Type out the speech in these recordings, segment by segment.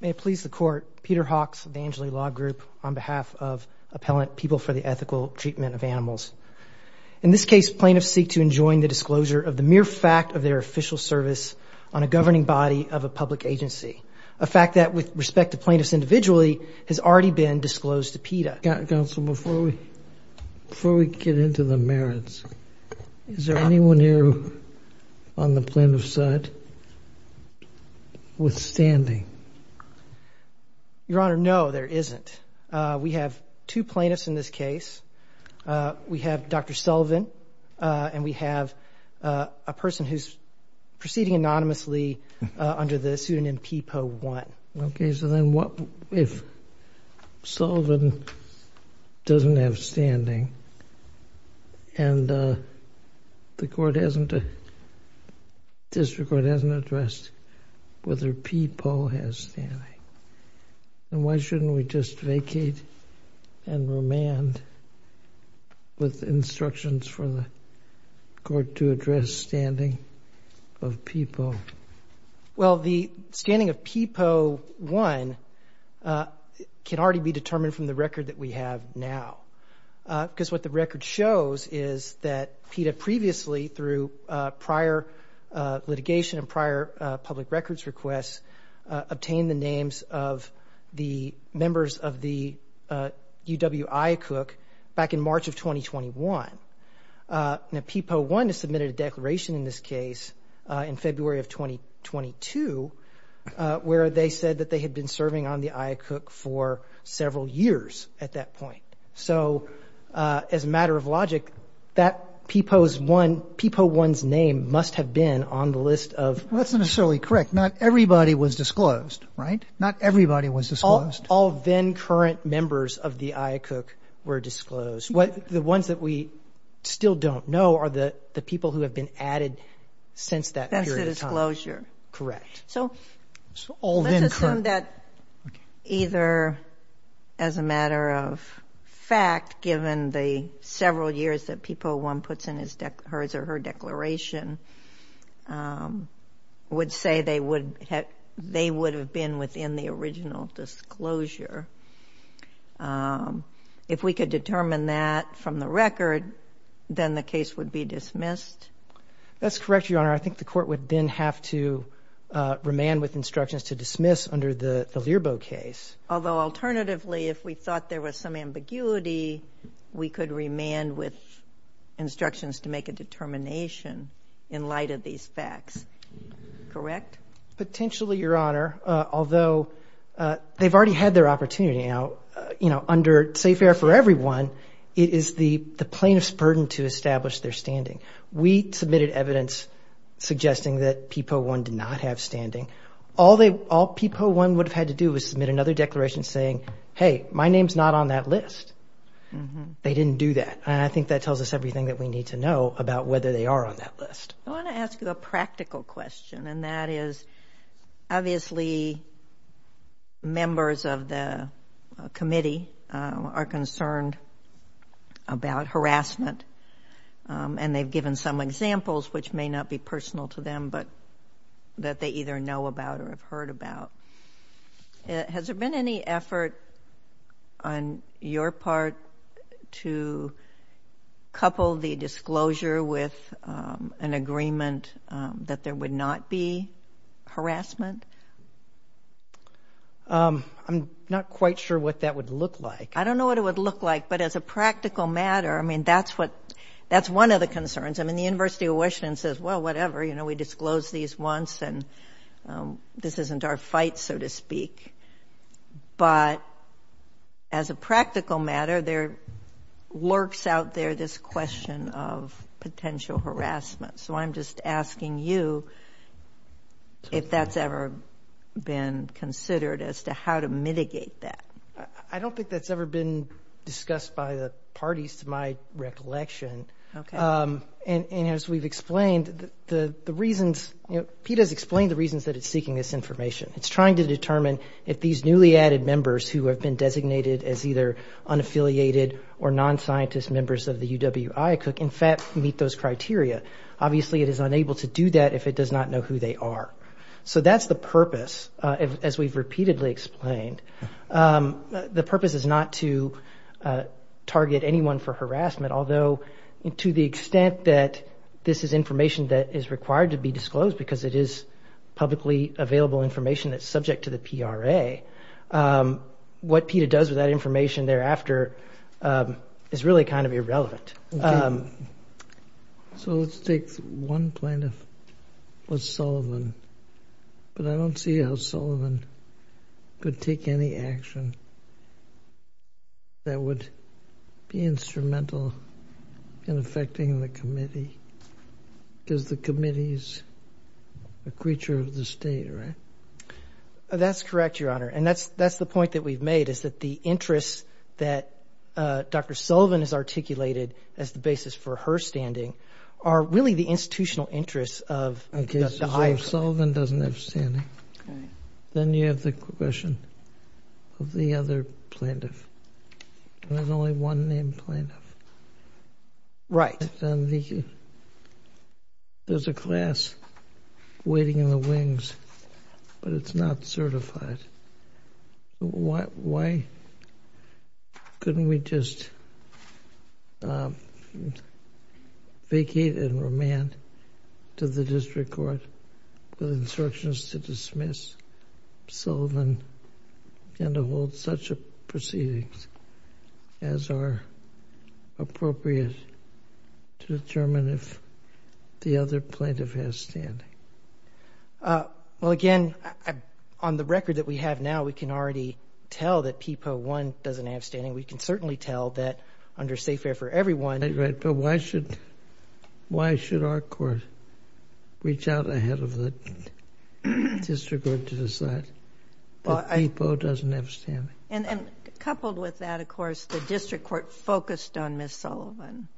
May it please the Court, Peter Hawks of the Angeli Law Group on behalf of Appellant People for the Ethical Treatment of Animals. In this case, plaintiffs seek to enjoin the disclosure of the mere fact of their official service on a governing body of a public agency, a fact that, with respect to plaintiffs individually, has already been disclosed to PETA. Counsel, before we get into the merits, is there anyone here on the plaintiff's side withstanding? Your Honor, no, there isn't. We have two plaintiffs in this case. We have Dr. Sullivan, and we have a person who's proceeding anonymously under the pseudonym PPO-1. Okay, so then what if Sullivan doesn't have standing, and the District Court hasn't addressed whether PPO has standing? Then why shouldn't we just vacate and remand with instructions for the Court to address standing of PPO? Well, the standing of PPO-1 can already be determined from the record that we have now, because what the record shows is that PETA previously, through prior litigation and prior public records requests, obtained the names of the members of the UW IACUC back in March of 2021. Now, PPO-1 has submitted a declaration in this case in February of 2022, where they said that they had been serving on the IACUC for several years at that point. So, as a matter of logic, that PPO-1's name must have been on the list of— Well, that's not necessarily correct. Not everybody was disclosed, right? Not everybody was disclosed. All then-current members of the IACUC were disclosed. The ones that we still don't know are the people who have been added since that period of time. That's the disclosure. Correct. So, let's assume that either, as a matter of fact, given the several years that PPO-1 puts in his or her declaration, would say they would have been within the original disclosure. If we could determine that from the record, then the case would be dismissed? That's correct, Your Honor. I think the court would then have to remand with instructions to dismiss under the Learbo case. Although, alternatively, if we thought there was some ambiguity, we could remand with instructions to make a determination in light of these facts. Correct? Potentially, Your Honor, although they've already had their opportunity now, you know, under safe air for everyone, it is the plaintiff's burden to establish their standing. We submitted evidence suggesting that PPO-1 did not have standing. All PPO-1 would have had to do was submit another declaration saying, hey, my name's not on that list. They didn't do that. And I think that tells us everything that we need to know about whether they are on that list. I want to ask you a practical question, and that is, obviously, members of the committee are concerned about harassment. And they've given some examples, which may not be personal to them, but that they either know about or have heard about. Has there been any effort on your part to couple the disclosure with an agreement that there would not be harassment? I'm not quite sure what that would look like. I don't know what it would look like, but as a practical matter, I mean, that's one of the concerns. I mean, the University of Washington says, well, whatever, you know, we disclosed these once, and this isn't our fight, so to speak. But as a practical matter, there lurks out there this question of potential harassment. So I'm just asking you if that's ever been considered as to how to mitigate that. I don't think that's ever been discussed by the parties, to my recollection. Okay. And as we've explained, the reasons, you know, PETA's explained the reasons that it's seeking this information. It's trying to determine if these newly added members who have been designated as either unaffiliated or non-scientist members of the UWI could, in fact, meet those criteria. Obviously, it is unable to do that if it does not know who they are. So that's the purpose, as we've repeatedly explained. The purpose is not to target anyone for harassment, although to the extent that this is information that is required to be disclosed because it is publicly available information that's subject to the PRA, what PETA does with that information thereafter is really kind of irrelevant. So let's take one plaintiff. What's Sullivan? But I don't see how Sullivan could take any action that would be instrumental in affecting the committee because the committee is a creature of the state, right? That's correct, Your Honor. And that's the point that we've made is that the interests that Dr. Sullivan has articulated as the basis for her standing are really the institutional interests of the higher court. Okay, so if Sullivan doesn't have standing, then you have the question of the other plaintiff. There's only one named plaintiff. Right. There's a class waiting in the wings, but it's not certified. Why couldn't we just vacate and remand to the district court with instructions to dismiss Sullivan and to hold such proceedings as are appropriate to determine if the other plaintiff has standing? Well, again, on the record that we have now, we can already tell that PEPA 1 doesn't have standing. We can certainly tell that under safe air for everyone. Right, but why should our court reach out ahead of the district court to decide? PEPA doesn't have standing. And coupled with that, of course, the district court focused on Ms. Sullivan.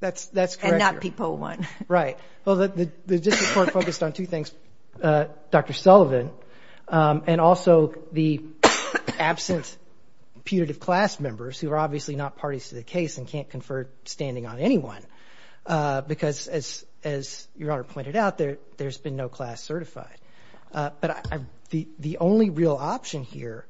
That's correct. And not PEPA 1. Right. Well, the district court focused on two things, Dr. Sullivan, and also the absent putative class members who are obviously not parties to the case and can't confer standing on anyone because, as Your Honor pointed out, there's been no class certified. But the only real option here,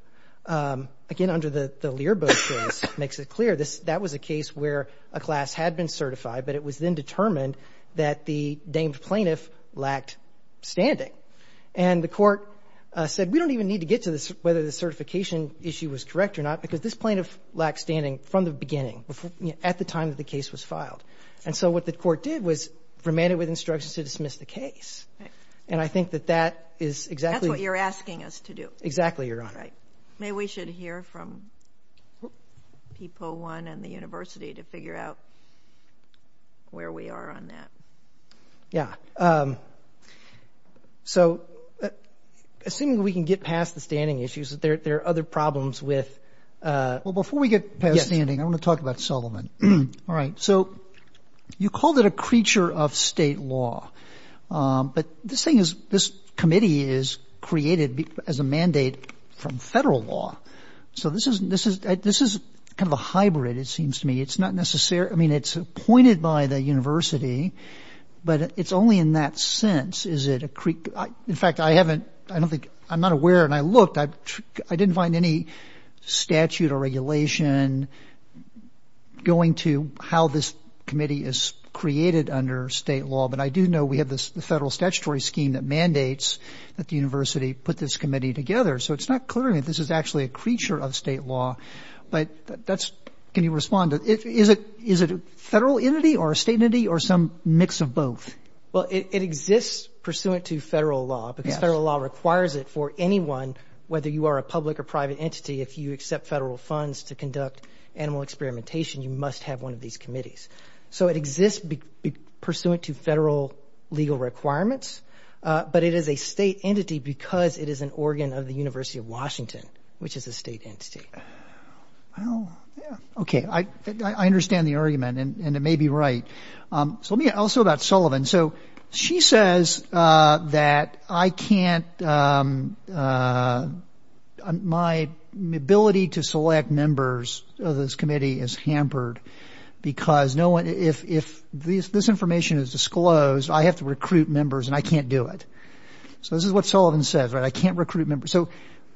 again, under the Learboat case, makes it clear, that was a case where a class had been certified, but it was then determined that the named plaintiff lacked standing. And the court said, we don't even need to get to whether the certification issue was correct or not because this plaintiff lacked standing from the beginning at the time that the case was filed. And so what the court did was remanded with instructions to dismiss the case. And I think that that is exactly. That's what you're asking us to do. Exactly, Your Honor. Right. Maybe we should hear from PEPA 1 and the university to figure out where we are on that. Yeah. So assuming we can get past the standing issues, there are other problems with. Well, before we get past standing, I want to talk about Sullivan. All right. So you called it a creature of state law. But this thing is, this committee is created as a mandate from federal law. So this is kind of a hybrid, it seems to me. It's not necessarily, I mean, it's appointed by the university, but it's only in that sense. In fact, I haven't, I don't think, I'm not aware, and I looked, I didn't find any statute or regulation going to how this committee is created under state law. But I do know we have the federal statutory scheme that mandates that the university put this committee together. So it's not clear to me if this is actually a creature of state law. But that's, can you respond? Is it a federal entity or a state entity or some mix of both? Well, it exists pursuant to federal law because federal law requires it for anyone, whether you are a public or private entity, if you accept federal funds to conduct animal experimentation, you must have one of these committees. So it exists pursuant to federal legal requirements. But it is a state entity because it is an organ of the University of Washington, which is a state entity. Well, yeah, okay. I understand the argument, and it may be right. Tell me also about Sullivan. So she says that I can't, my ability to select members of this committee is hampered because no one, if this information is disclosed, I have to recruit members, and I can't do it. So this is what Sullivan says, right, I can't recruit members. So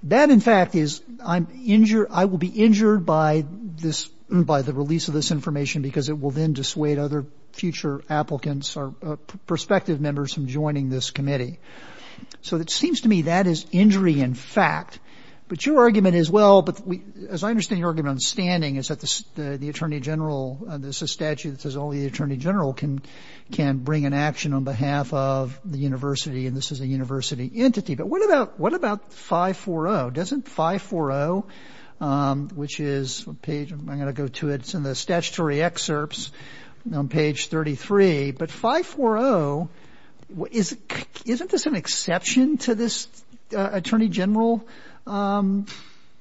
that, in fact, is I'm injured, I will be injured by this, by the release of this information because it will then dissuade other future applicants or prospective members from joining this committee. So it seems to me that is injury in fact. But your argument as well, as I understand your argument on standing, is that the Attorney General, this is a statute that says only the Attorney General can bring an action on behalf of the university, and this is a university entity. But what about 540? Doesn't 540, which is a page, I'm going to go to it, it's in the statutory excerpts on page 33. But 540, isn't this an exception to this Attorney General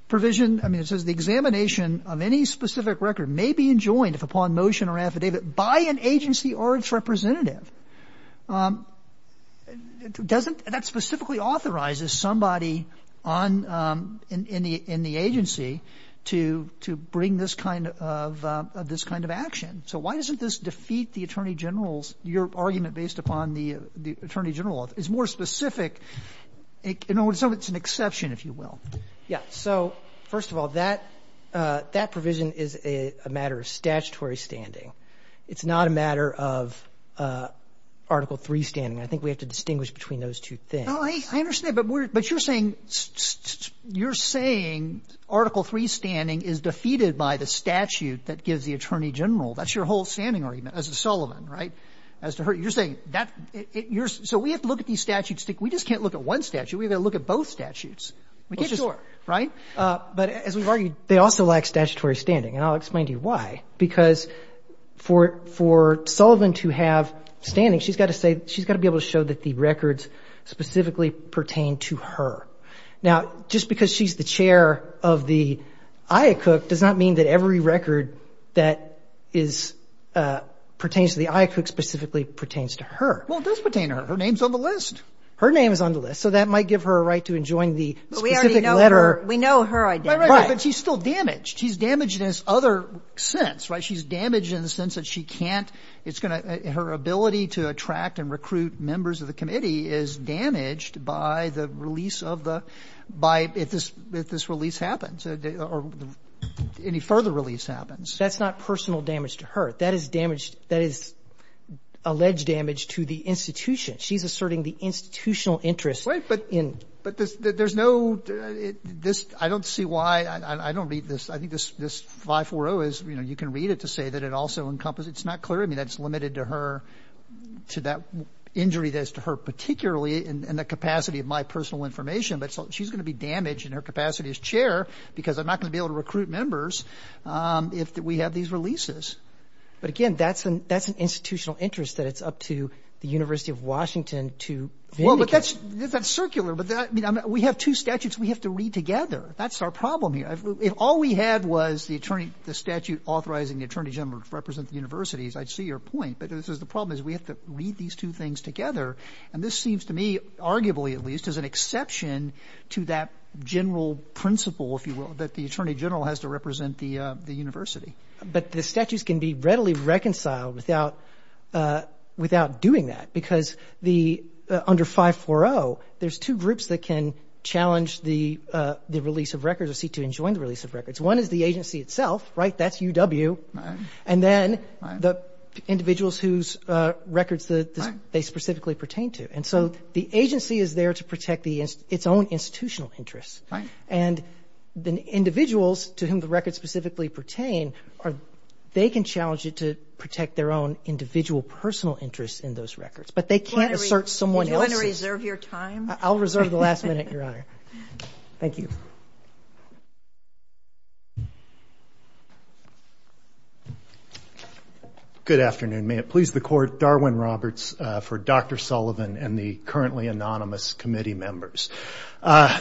provision? I mean, it says the examination of any specific record may be enjoined upon motion or affidavit by an agency or its representative. Doesn't, that specifically authorizes somebody in the agency to bring this kind of action. So why doesn't this defeat the Attorney General's, your argument based upon the Attorney General, is more specific, it's an exception, if you will. Yeah. So, first of all, that provision is a matter of statutory standing. It's not a matter of Article III standing. I think we have to distinguish between those two things. I understand. But you're saying Article III standing is defeated by the statute that gives the Attorney General. That's your whole standing argument as to Sullivan, right, as to her. You're saying that, so we have to look at these statutes. We just can't look at one statute. We've got to look at both statutes. Sure. Right? But as we've argued, they also lack statutory standing. And I'll explain to you why, because for Sullivan to have standing, she's got to be able to show that the records specifically pertain to her. Now, just because she's the chair of the IACUC does not mean that every record that pertains to the IACUC specifically pertains to her. Well, it does pertain to her. Her name's on the list. Her name is on the list. So that might give her a right to enjoin the specific letter. But we already know her. We know her identity. Right. But she's still damaged. She's damaged in this other sense, right? She's damaged in the sense that she can't — it's going to — her ability to attract and recruit members of the committee is damaged by the release of the — by — if this release happens, or any further release happens. That's not personal damage to her. That is damage — that is alleged damage to the institution. She's asserting the institutional interest in — But there's no — this — I don't see why — I don't read this. I think this 540 is — you know, you can read it to say that it also encompasses — it's not clear. I mean, that's limited to her — to that injury that's to her particularly in the capacity of my personal information. But she's going to be damaged in her capacity as chair because I'm not going to be able to recruit members if we have these releases. But, again, that's an institutional interest that it's up to the University of Washington to vindicate. Well, but that's — that's circular. But that — I mean, we have two statutes we have to read together. That's our problem here. If all we had was the attorney — the statute authorizing the attorney general to represent the universities, I'd see your point. But this is — the problem is we have to read these two things together. And this seems to me, arguably at least, as an exception to that general principle, if you will, that the attorney general has to represent the university. But the statutes can be readily reconciled without — without doing that because the — under 540, there's two groups that can challenge the release of records or see to enjoin the release of records. One is the agency itself, right? That's UW. Right. And then the individuals whose records they specifically pertain to. And so the agency is there to protect the — its own institutional interests. Right. And the individuals to whom the records specifically pertain are — they can challenge it to protect their own individual personal interests in those records. But they can't assert someone else's. Do you want to reserve your time? I'll reserve the last minute, Your Honor. Thank you. Good afternoon. May it please the Court. Darwin Roberts for Dr. Sullivan and the currently anonymous committee members. I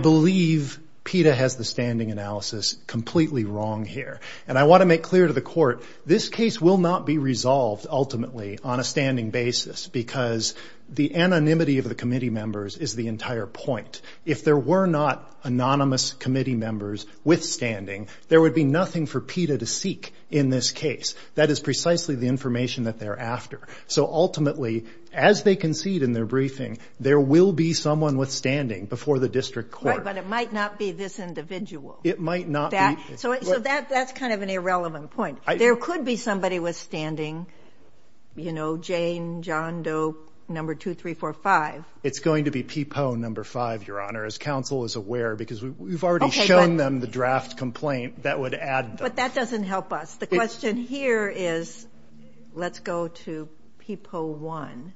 believe PETA has the standing analysis completely wrong here. And I want to make clear to the Court, this case will not be resolved ultimately on a standing basis because the anonymity of the committee members is the entire point. If there were not anonymous committee members withstanding, there would be nothing for PETA to seek in this case. That is precisely the information that they're after. So ultimately, as they concede in their briefing, there will be someone withstanding before the district court. Right. But it might not be this individual. It might not be. So that's kind of an irrelevant point. There could be somebody withstanding, you know, Jane, John Doe, number 2345. It's going to be PPO number 5, Your Honor, as counsel is aware, because we've already shown them the draft complaint that would add them. But that doesn't help us. The question here is, let's go to PPO 1,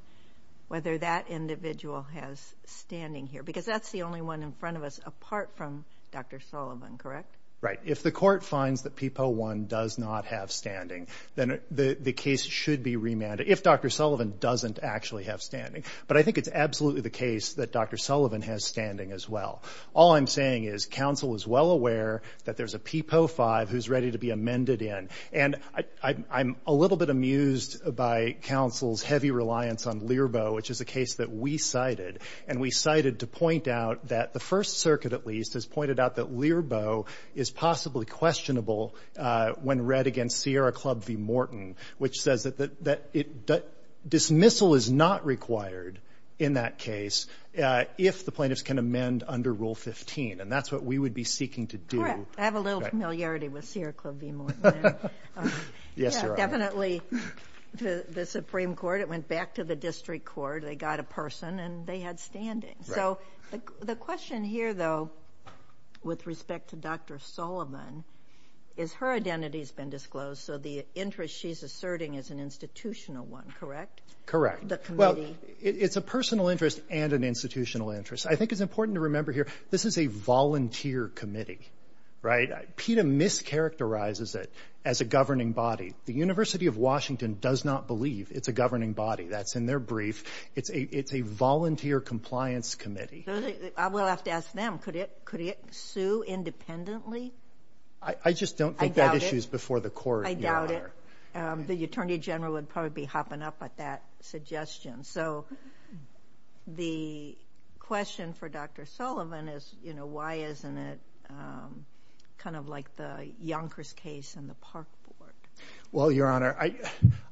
whether that individual has standing here. Because that's the only one in front of us apart from Dr. Sullivan, correct? Right. If the court finds that PPO 1 does not have standing, then the case should be remanded if Dr. Sullivan doesn't actually have standing. But I think it's absolutely the case that Dr. Sullivan has standing as well. All I'm saying is counsel is well aware that there's a PPO 5 who's ready to be amended in. And I'm a little bit amused by counsel's heavy reliance on LIRBO, which is a case that we cited. And we cited to point out that the First Circuit at least has pointed out that LIRBO is possibly questionable when read against Sierra Club v. Morton, which says that dismissal is not required in that case if the plaintiffs can amend under Rule 15. And that's what we would be seeking to do. Correct. I have a little familiarity with Sierra Club v. Morton there. Yes, Your Honor. Definitely the Supreme Court. It went back to the district court. They got a person, and they had standing. So the question here, though, with respect to Dr. Sullivan is her identity has been disclosed, so the interest she's asserting is an institutional one, correct? Correct. The committee. Well, it's a personal interest and an institutional interest. I think it's important to remember here this is a volunteer committee, right? PETA mischaracterizes it as a governing body. The University of Washington does not believe it's a governing body. That's in their brief. It's a volunteer compliance committee. I will have to ask them. Could it sue independently? I just don't think that issue is before the court, Your Honor. I doubt it. The Attorney General would probably be hopping up at that suggestion. So the question for Dr. Sullivan is, you know, why isn't it kind of like the Yonkers case in the Park Board? Well, Your Honor,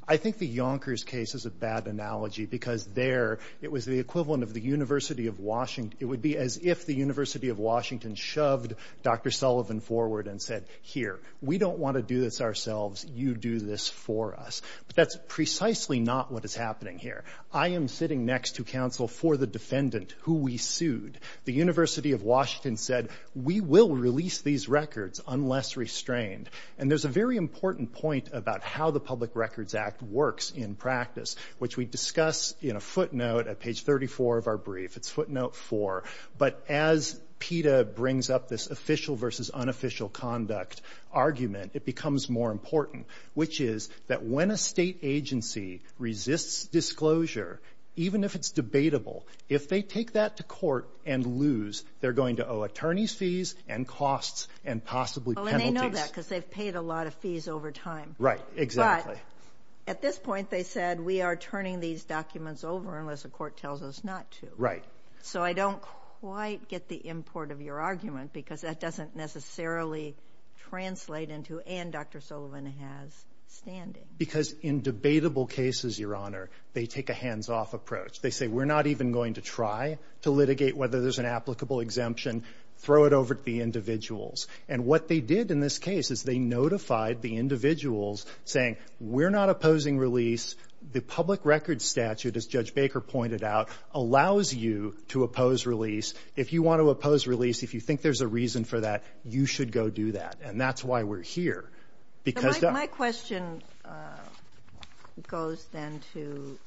I think the Yonkers case is a bad analogy because there it was the equivalent of the University of Washington. It would be as if the University of Washington shoved Dr. Sullivan forward and said, here, we don't want to do this ourselves. You do this for us. But that's precisely not what is happening here. I am sitting next to counsel for the defendant who we sued. The University of Washington said, we will release these records unless restrained. And there's a very important point about how the Public Records Act works in practice, which we discuss in a footnote at page 34 of our brief. It's footnote 4. But as PETA brings up this official versus unofficial conduct argument, it becomes more important, which is that when a State agency resists disclosure, even if it's debatable, if they take that to court and lose, they're going to owe attorneys fees and costs and possibly penalties. I know that because they've paid a lot of fees over time. Right, exactly. But at this point, they said, we are turning these documents over unless the court tells us not to. Right. So I don't quite get the import of your argument because that doesn't necessarily translate into, and Dr. Sullivan has standing. Because in debatable cases, Your Honor, they take a hands-off approach. They say, we're not even going to try to litigate whether there's an applicable exemption, throw it over to the individuals. And what they did in this case is they notified the individuals saying, we're not opposing release. The public records statute, as Judge Baker pointed out, allows you to oppose release. If you want to oppose release, if you think there's a reason for that, you should go do that. And that's why we're here. My question goes then to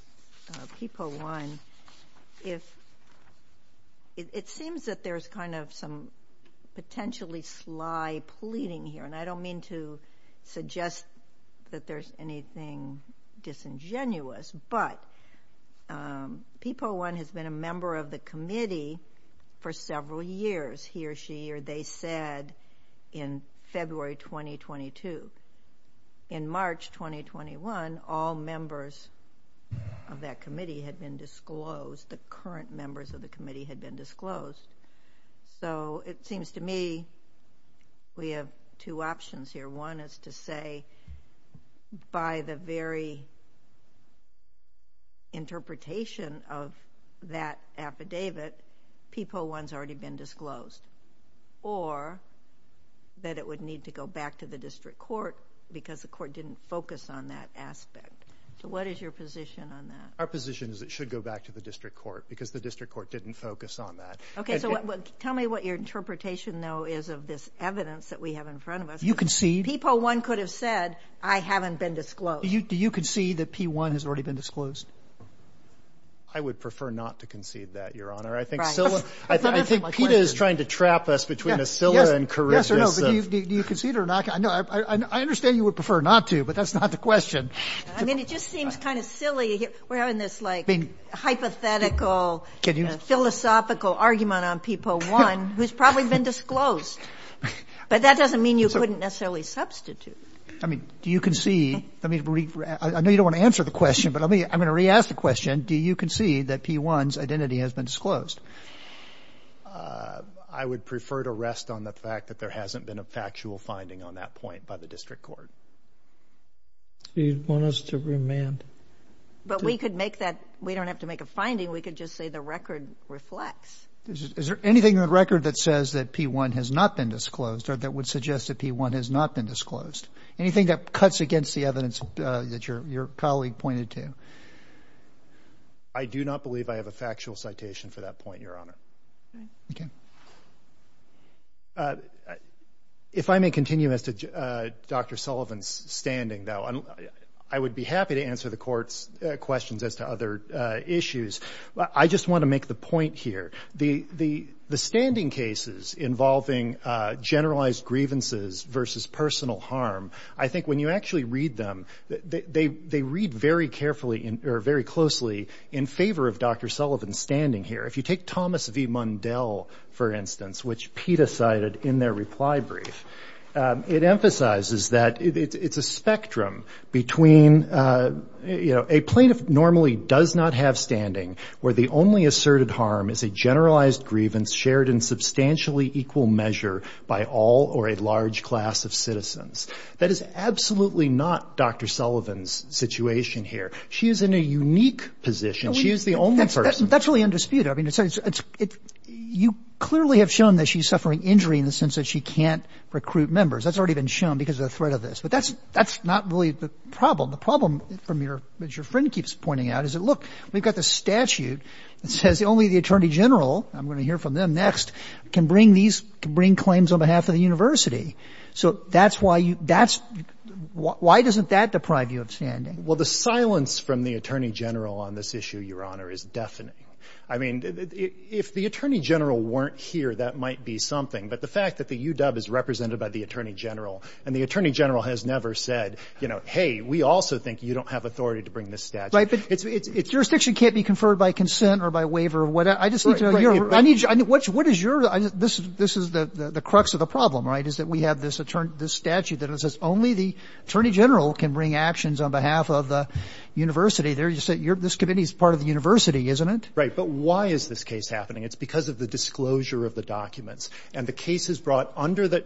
PPO 1. It seems that there's kind of some potentially sly pleading here. And I don't mean to suggest that there's anything disingenuous. But PPO 1 has been a member of the committee for several years. He or she or they said in February 2022. In March 2021, all members of that committee had been disclosed. The current members of the committee had been disclosed. So it seems to me we have two options here. One is to say by the very interpretation of that affidavit, PPO 1 has already been disclosed. Or that it would need to go back to the district court because the court didn't focus on that aspect. So what is your position on that? Our position is it should go back to the district court because the district court didn't focus on that. Okay. So tell me what your interpretation, though, is of this evidence that we have in front of us. You concede? PPO 1 could have said, I haven't been disclosed. Do you concede that P1 has already been disclosed? I would prefer not to concede that, Your Honor. I think PETA is trying to trap us between a scylla and charisma. Do you concede or not? I understand you would prefer not to, but that's not the question. I mean, it just seems kind of silly. We're having this, like, hypothetical, philosophical argument on PPO 1, who's probably been disclosed. But that doesn't mean you couldn't necessarily substitute. I mean, do you concede? I know you don't want to answer the question, but I'm going to re-ask the question. Do you concede that P1's identity has been disclosed? I would prefer to rest on the fact that there hasn't been a factual finding on that point by the district court. So you'd want us to remand? But we could make that. We don't have to make a finding. We could just say the record reflects. Is there anything in the record that says that P1 has not been disclosed or that would suggest that P1 has not been disclosed? Anything that cuts against the evidence that your colleague pointed to? I do not believe I have a factual citation for that point, Your Honor. Okay. If I may continue as to Dr. Sullivan's standing, though, I would be happy to answer the Court's questions as to other issues. I just want to make the point here. The standing cases involving generalized grievances versus personal harm, I think when you actually read them, they read very carefully or very closely in favor of Dr. Sullivan's standing here. If you take Thomas V. Mundell, for instance, which PETA cited in their reply brief, it emphasizes that it's a spectrum between, you know, a plaintiff normally does not have standing where the only asserted harm is a generalized grievance shared in substantially equal measure by all or a large class of citizens. That is absolutely not Dr. Sullivan's situation here. She is in a unique position. She is the only person. That's really undisputed. I mean, you clearly have shown that she's suffering injury in the sense that she can't recruit members. That's already been shown because of the threat of this. But that's not really the problem. The problem, as your friend keeps pointing out, is that, look, we've got this statute that says only the attorney general, and I'm going to hear from them next, can bring claims on behalf of the university. So that's why you – why doesn't that deprive you of standing? Well, the silence from the attorney general on this issue, Your Honor, is deafening. I mean, if the attorney general weren't here, that might be something. But the fact that the UW is represented by the attorney general and the attorney general has never said, you know, hey, we also think you don't have authority to bring this statute. Right, but jurisdiction can't be conferred by consent or by waiver or whatever. I just need to know. What is your – this is the crux of the problem, right, is that we have this statute that says only the attorney general can bring actions on behalf of the university. This committee is part of the university, isn't it? Right, but why is this case happening? It's because of the disclosure of the documents. And the case is brought under the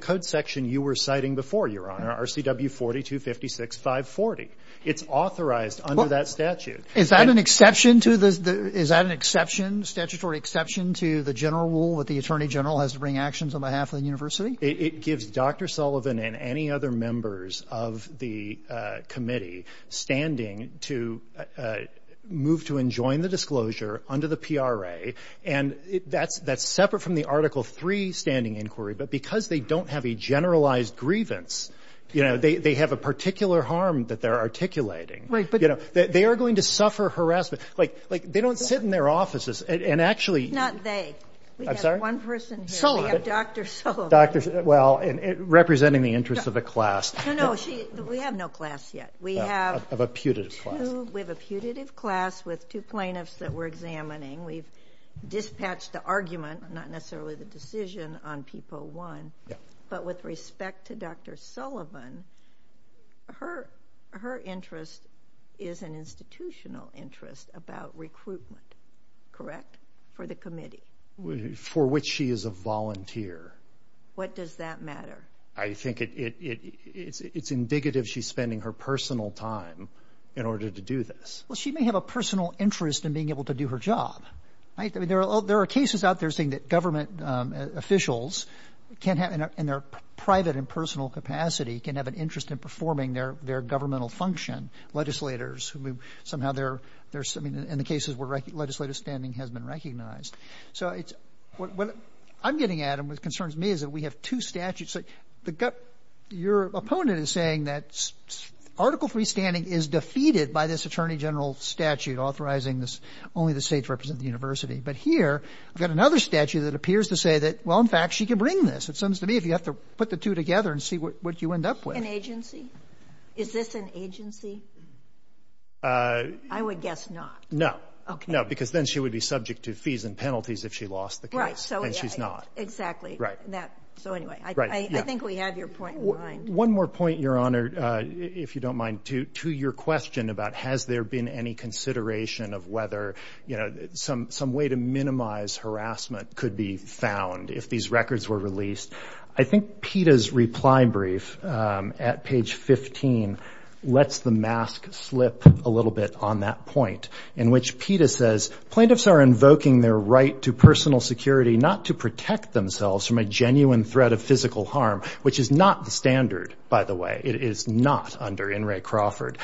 code section you were citing before, Your Honor, RCW 4256540. It's authorized under that statute. Is that an exception to the – is that an exception, statutory exception to the general rule that the attorney general has to bring actions on behalf of the university? It gives Dr. Sullivan and any other members of the committee standing to move to enjoin the disclosure under the PRA. And that's separate from the Article III standing inquiry. But because they don't have a generalized grievance, you know, they have a particular harm that they're articulating. Right, but – You know, they are going to suffer harassment. Like, they don't sit in their offices and actually – It's not they. I'm sorry? We have one person here. Sullivan. We have Dr. Sullivan. Well, representing the interests of a class. No, no, she – we have no class yet. We have – Of a putative class. We have a putative class with two plaintiffs that we're examining. We've dispatched the argument, not necessarily the decision, on People 1. Yeah. But with respect to Dr. Sullivan, her interest is an institutional interest about recruitment. Correct? For the committee. For which she is a volunteer. What does that matter? I think it's indicative she's spending her personal time in order to do this. Well, she may have a personal interest in being able to do her job. Right? I mean, there are cases out there saying that government officials can have – in their private and personal capacity can have an interest in performing their governmental function. Legislators who somehow they're – I mean, in the cases where legislative standing has been recognized. So it's – what I'm getting at and what concerns me is that we have two statutes. Your opponent is saying that Article III standing is defeated by this attorney general statute authorizing this – only the states represent the university. But here I've got another statute that appears to say that, well, in fact, she can bring this. It seems to me if you have to put the two together and see what you end up with. An agency? Is this an agency? I would guess not. No. Okay. No, because then she would be subject to fees and penalties if she lost the case. Right. And she's not. Exactly. Right. So anyway, I think we have your point in mind. One more point, Your Honor, if you don't mind, to your question about has there been any consideration of whether some way to minimize harassment could be found if these records were released. I think PETA's reply brief at page 15 lets the mask slip a little bit on that point in which PETA says, plaintiffs are invoking their right to personal security not to protect themselves from a genuine threat of physical harm, which is not the standard, by the way. It is not under In re Crawford,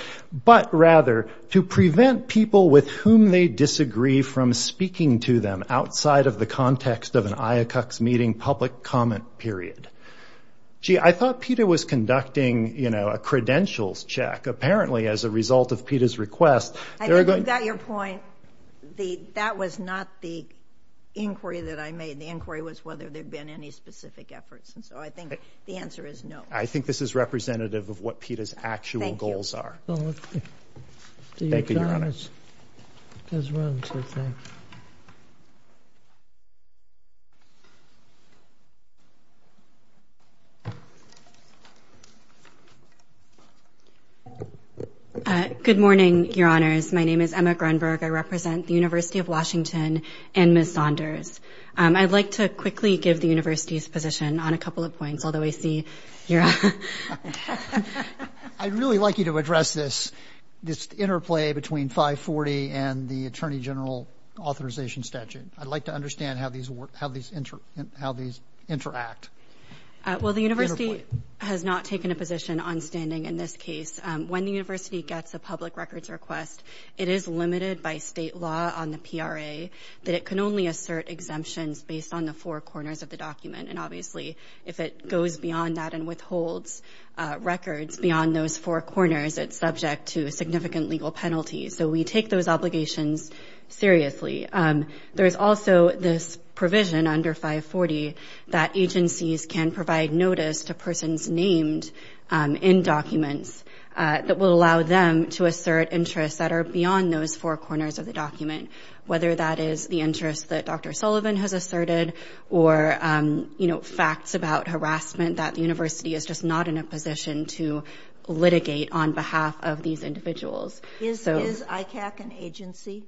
but rather to prevent people with whom they disagree from speaking to them outside of the context of an IACUCS meeting public comment period. Gee, I thought PETA was conducting, you know, a credentials check. Apparently as a result of PETA's request – I think you got your point. That was not the inquiry that I made. The inquiry was whether there had been any specific efforts. And so I think the answer is no. I think this is representative of what PETA's actual goals are. Thank you. Thank you, Your Honors. Good morning, Your Honors. My name is Emma Grunberg. I represent the University of Washington and Ms. Saunders. I'd like to quickly give the university's position on a couple of points, although I see you're – I'd really like you to address this interplay between 540 and the Attorney General authorization statute. I'd like to understand how these interact. Well, the university has not taken a position on standing in this case. When the university gets a public records request, it is limited by state law on the PRA that it can only assert exemptions based on the four corners of the document. And obviously if it goes beyond that and withholds records beyond those four corners, it's subject to significant legal penalties. So we take those obligations seriously. There is also this provision under 540 that agencies can provide notice to persons named in documents that will allow them to assert interests that are beyond those four corners of the document, whether that is the interest that Dr. Sullivan has asserted or, you know, facts about harassment, that the university is just not in a position to litigate on behalf of these individuals. Is ICAC an agency?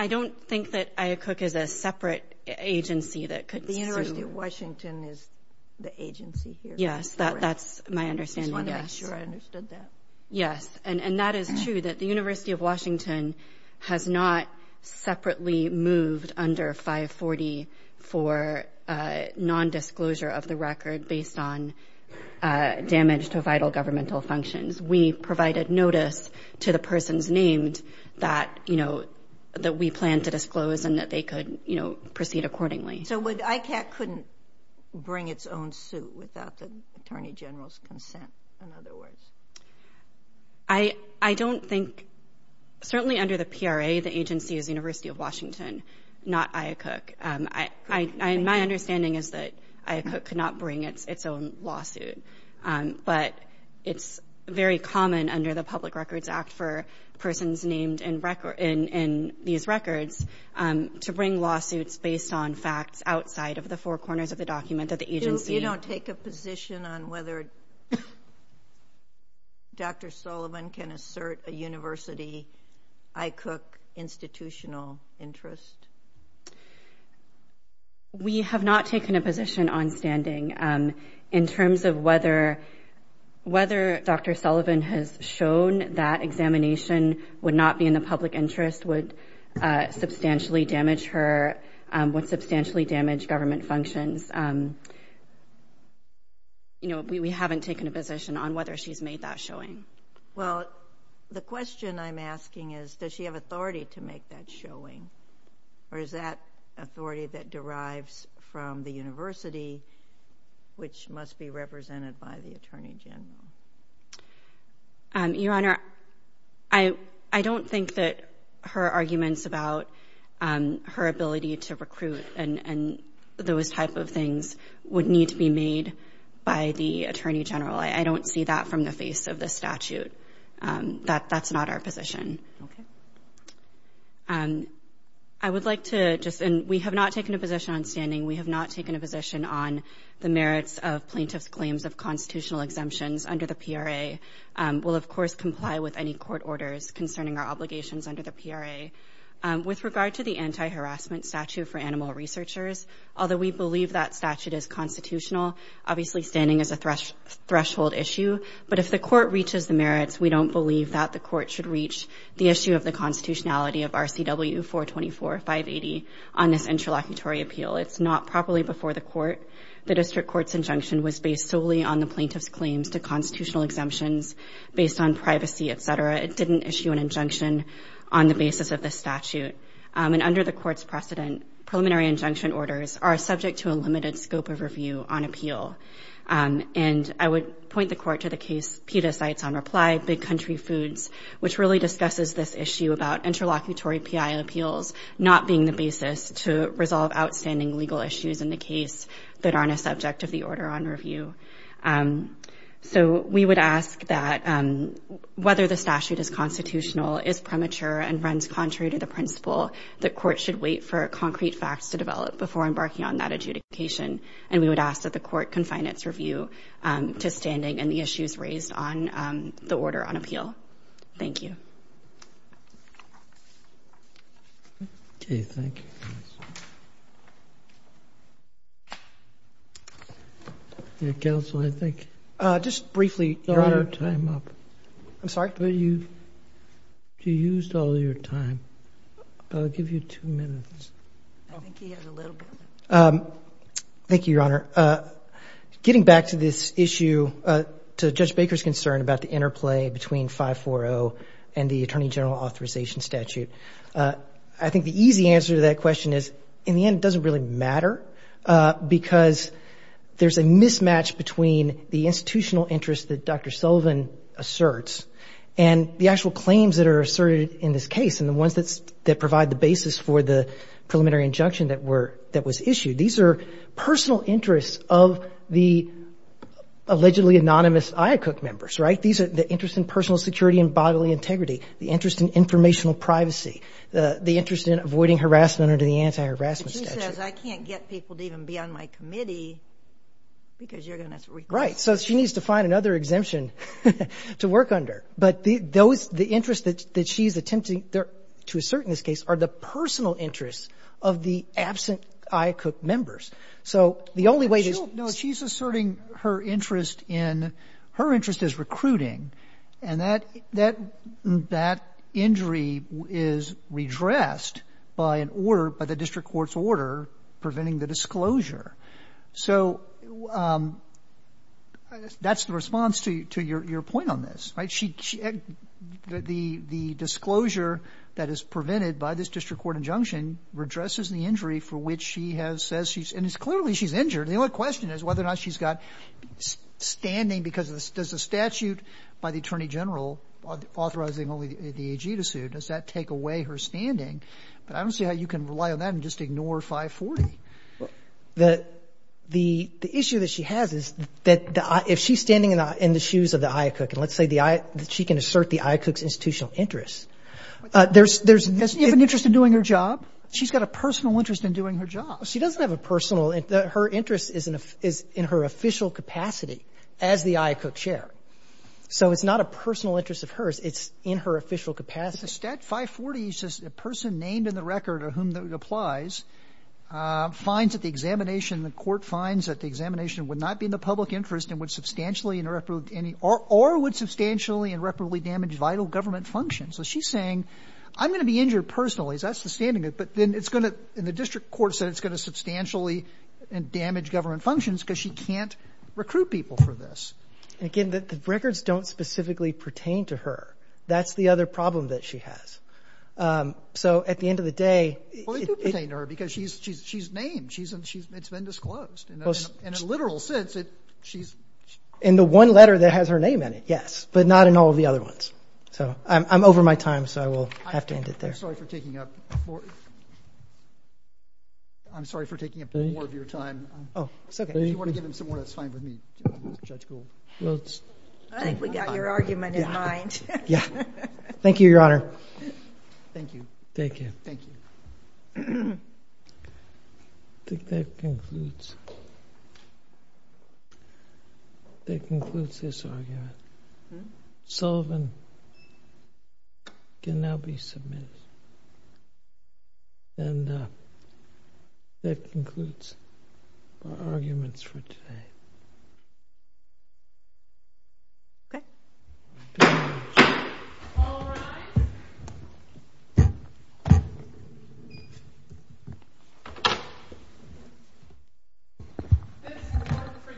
I don't think that IACUC is a separate agency that could assume. The University of Washington is the agency here. Yes, that's my understanding, yes. I just wanted to make sure I understood that. Yes, and that is true, that the University of Washington has not separately moved under 540 for nondisclosure of the record based on damage to vital governmental functions. We provided notice to the persons named that, you know, that we plan to disclose and that they could, you know, proceed accordingly. So ICAC couldn't bring its own suit without the Attorney General's consent, in other words? I don't think. Certainly under the PRA, the agency is the University of Washington, not IACUC. My understanding is that IACUC could not bring its own lawsuit. But it's very common under the Public Records Act for persons named in these records to bring lawsuits based on facts outside of the four corners of the document that the agency— You don't take a position on whether Dr. Sullivan can assert a university IACUC institutional interest? We have not taken a position on standing. In terms of whether Dr. Sullivan has shown that examination would not be in the public interest, would substantially damage her, would substantially damage government functions, you know, we haven't taken a position on whether she's made that showing. Well, the question I'm asking is, does she have authority to make that showing? Or is that authority that derives from the university, which must be represented by the Attorney General? Your Honor, I don't think that her arguments about her ability to recruit and those type of things would need to be made by the Attorney General. I don't see that from the face of the statute. That's not our position. I would like to just—and we have not taken a position on standing. We have not taken a position on the merits of plaintiffs' claims of constitutional exemptions under the PRA. We'll, of course, comply with any court orders concerning our obligations under the PRA. With regard to the anti-harassment statute for animal researchers, although we believe that statute is constitutional, obviously standing is a threshold issue. But if the court reaches the merits, we don't believe that the court should reach the issue of the constitutionality of RCW 424-580 on this interlocutory appeal. It's not properly before the court. The district court's injunction was based solely on the plaintiff's claims to constitutional exemptions based on privacy, et cetera. It didn't issue an injunction on the basis of the statute. And under the court's precedent, preliminary injunction orders are subject to a limited scope of review on appeal. And I would point the court to the case Peta Cites on Reply, Big Country Foods, which really discusses this issue about interlocutory PI appeals not being the basis to resolve outstanding legal issues in the case that aren't a subject of the order on review. So we would ask that whether the statute is constitutional, is premature, and runs contrary to the principle, the court should wait for concrete facts to develop before embarking on that adjudication. And we would ask that the court confine its review to standing and the issues raised on the order on appeal. Thank you. Okay, thank you. Counsel, I think... Just briefly, Your Honor. Time up. I'm sorry? You used all your time. I'll give you two minutes. I think he has a little bit. Thank you, Your Honor. Getting back to this issue, to Judge Baker's concern about the interplay between 540 and the attorney general authorization statute, I think the easy answer to that question is in the end it doesn't really matter because there's a mismatch between the institutional interest that Dr. Sullivan asserts and the actual claims that are asserted in this case, and the ones that provide the basis for the preliminary injunction that was issued. These are personal interests of the allegedly anonymous IACUC members, right? These are the interest in personal security and bodily integrity, the interest in informational privacy, the interest in avoiding harassment under the anti-harassment statute. But she says, I can't get people to even be on my committee because you're going to... Right. So she needs to find another exemption to work under. But the interest that she's attempting to assert in this case are the personal interests of the absent IACUC members. So the only way to... No, she's asserting her interest in her interest is recruiting. And that injury is redressed by an order, by the district court's order, preventing the disclosure. So that's the response to your point on this, right? The disclosure that is prevented by this district court injunction redresses the injury for which she has said she's... And it's clearly she's injured. The only question is whether or not she's got standing because of this. Does the statute by the Attorney General authorizing only the AG to sue, does that take away her standing? But I don't see how you can rely on that and just ignore 540. The issue that she has is that if she's standing in the shoes of the IACUC, and let's say she can assert the IACUC's institutional interests, there's... Doesn't she have an interest in doing her job? She's got a personal interest in doing her job. She doesn't have a personal interest. Her interest is in her official capacity as the IACUC chair. So it's not a personal interest of hers. It's in her official capacity. But the Stat 540 says a person named in the record of whom it applies finds that the examination, the court finds that the examination would not be in the public interest and would substantially and irreparably damage vital government functions. So she's saying, I'm going to be injured personally. That's the standing. But then it's going to, and the district court said it's going to substantially and damage government functions because she can't recruit people for this. Again, the records don't specifically pertain to her. That's the other problem that she has. So at the end of the day... Well, they do pertain to her because she's named. It's been disclosed. In a literal sense, she's... In the one letter that has her name in it, yes. But not in all of the other ones. So I'm over my time, so I will have to end it there. I'm sorry for taking up more of your time. Oh, it's okay. If you want to give him some more, that's fine with me. Judge Gould. I think we got your argument in mind. Yeah. Thank you, Your Honor. Thank you. Thank you. Thank you. I think that concludes this argument. Sullivan can now be submitted. And that concludes our arguments for today. Okay. All rise. This court for this session stands adjourned.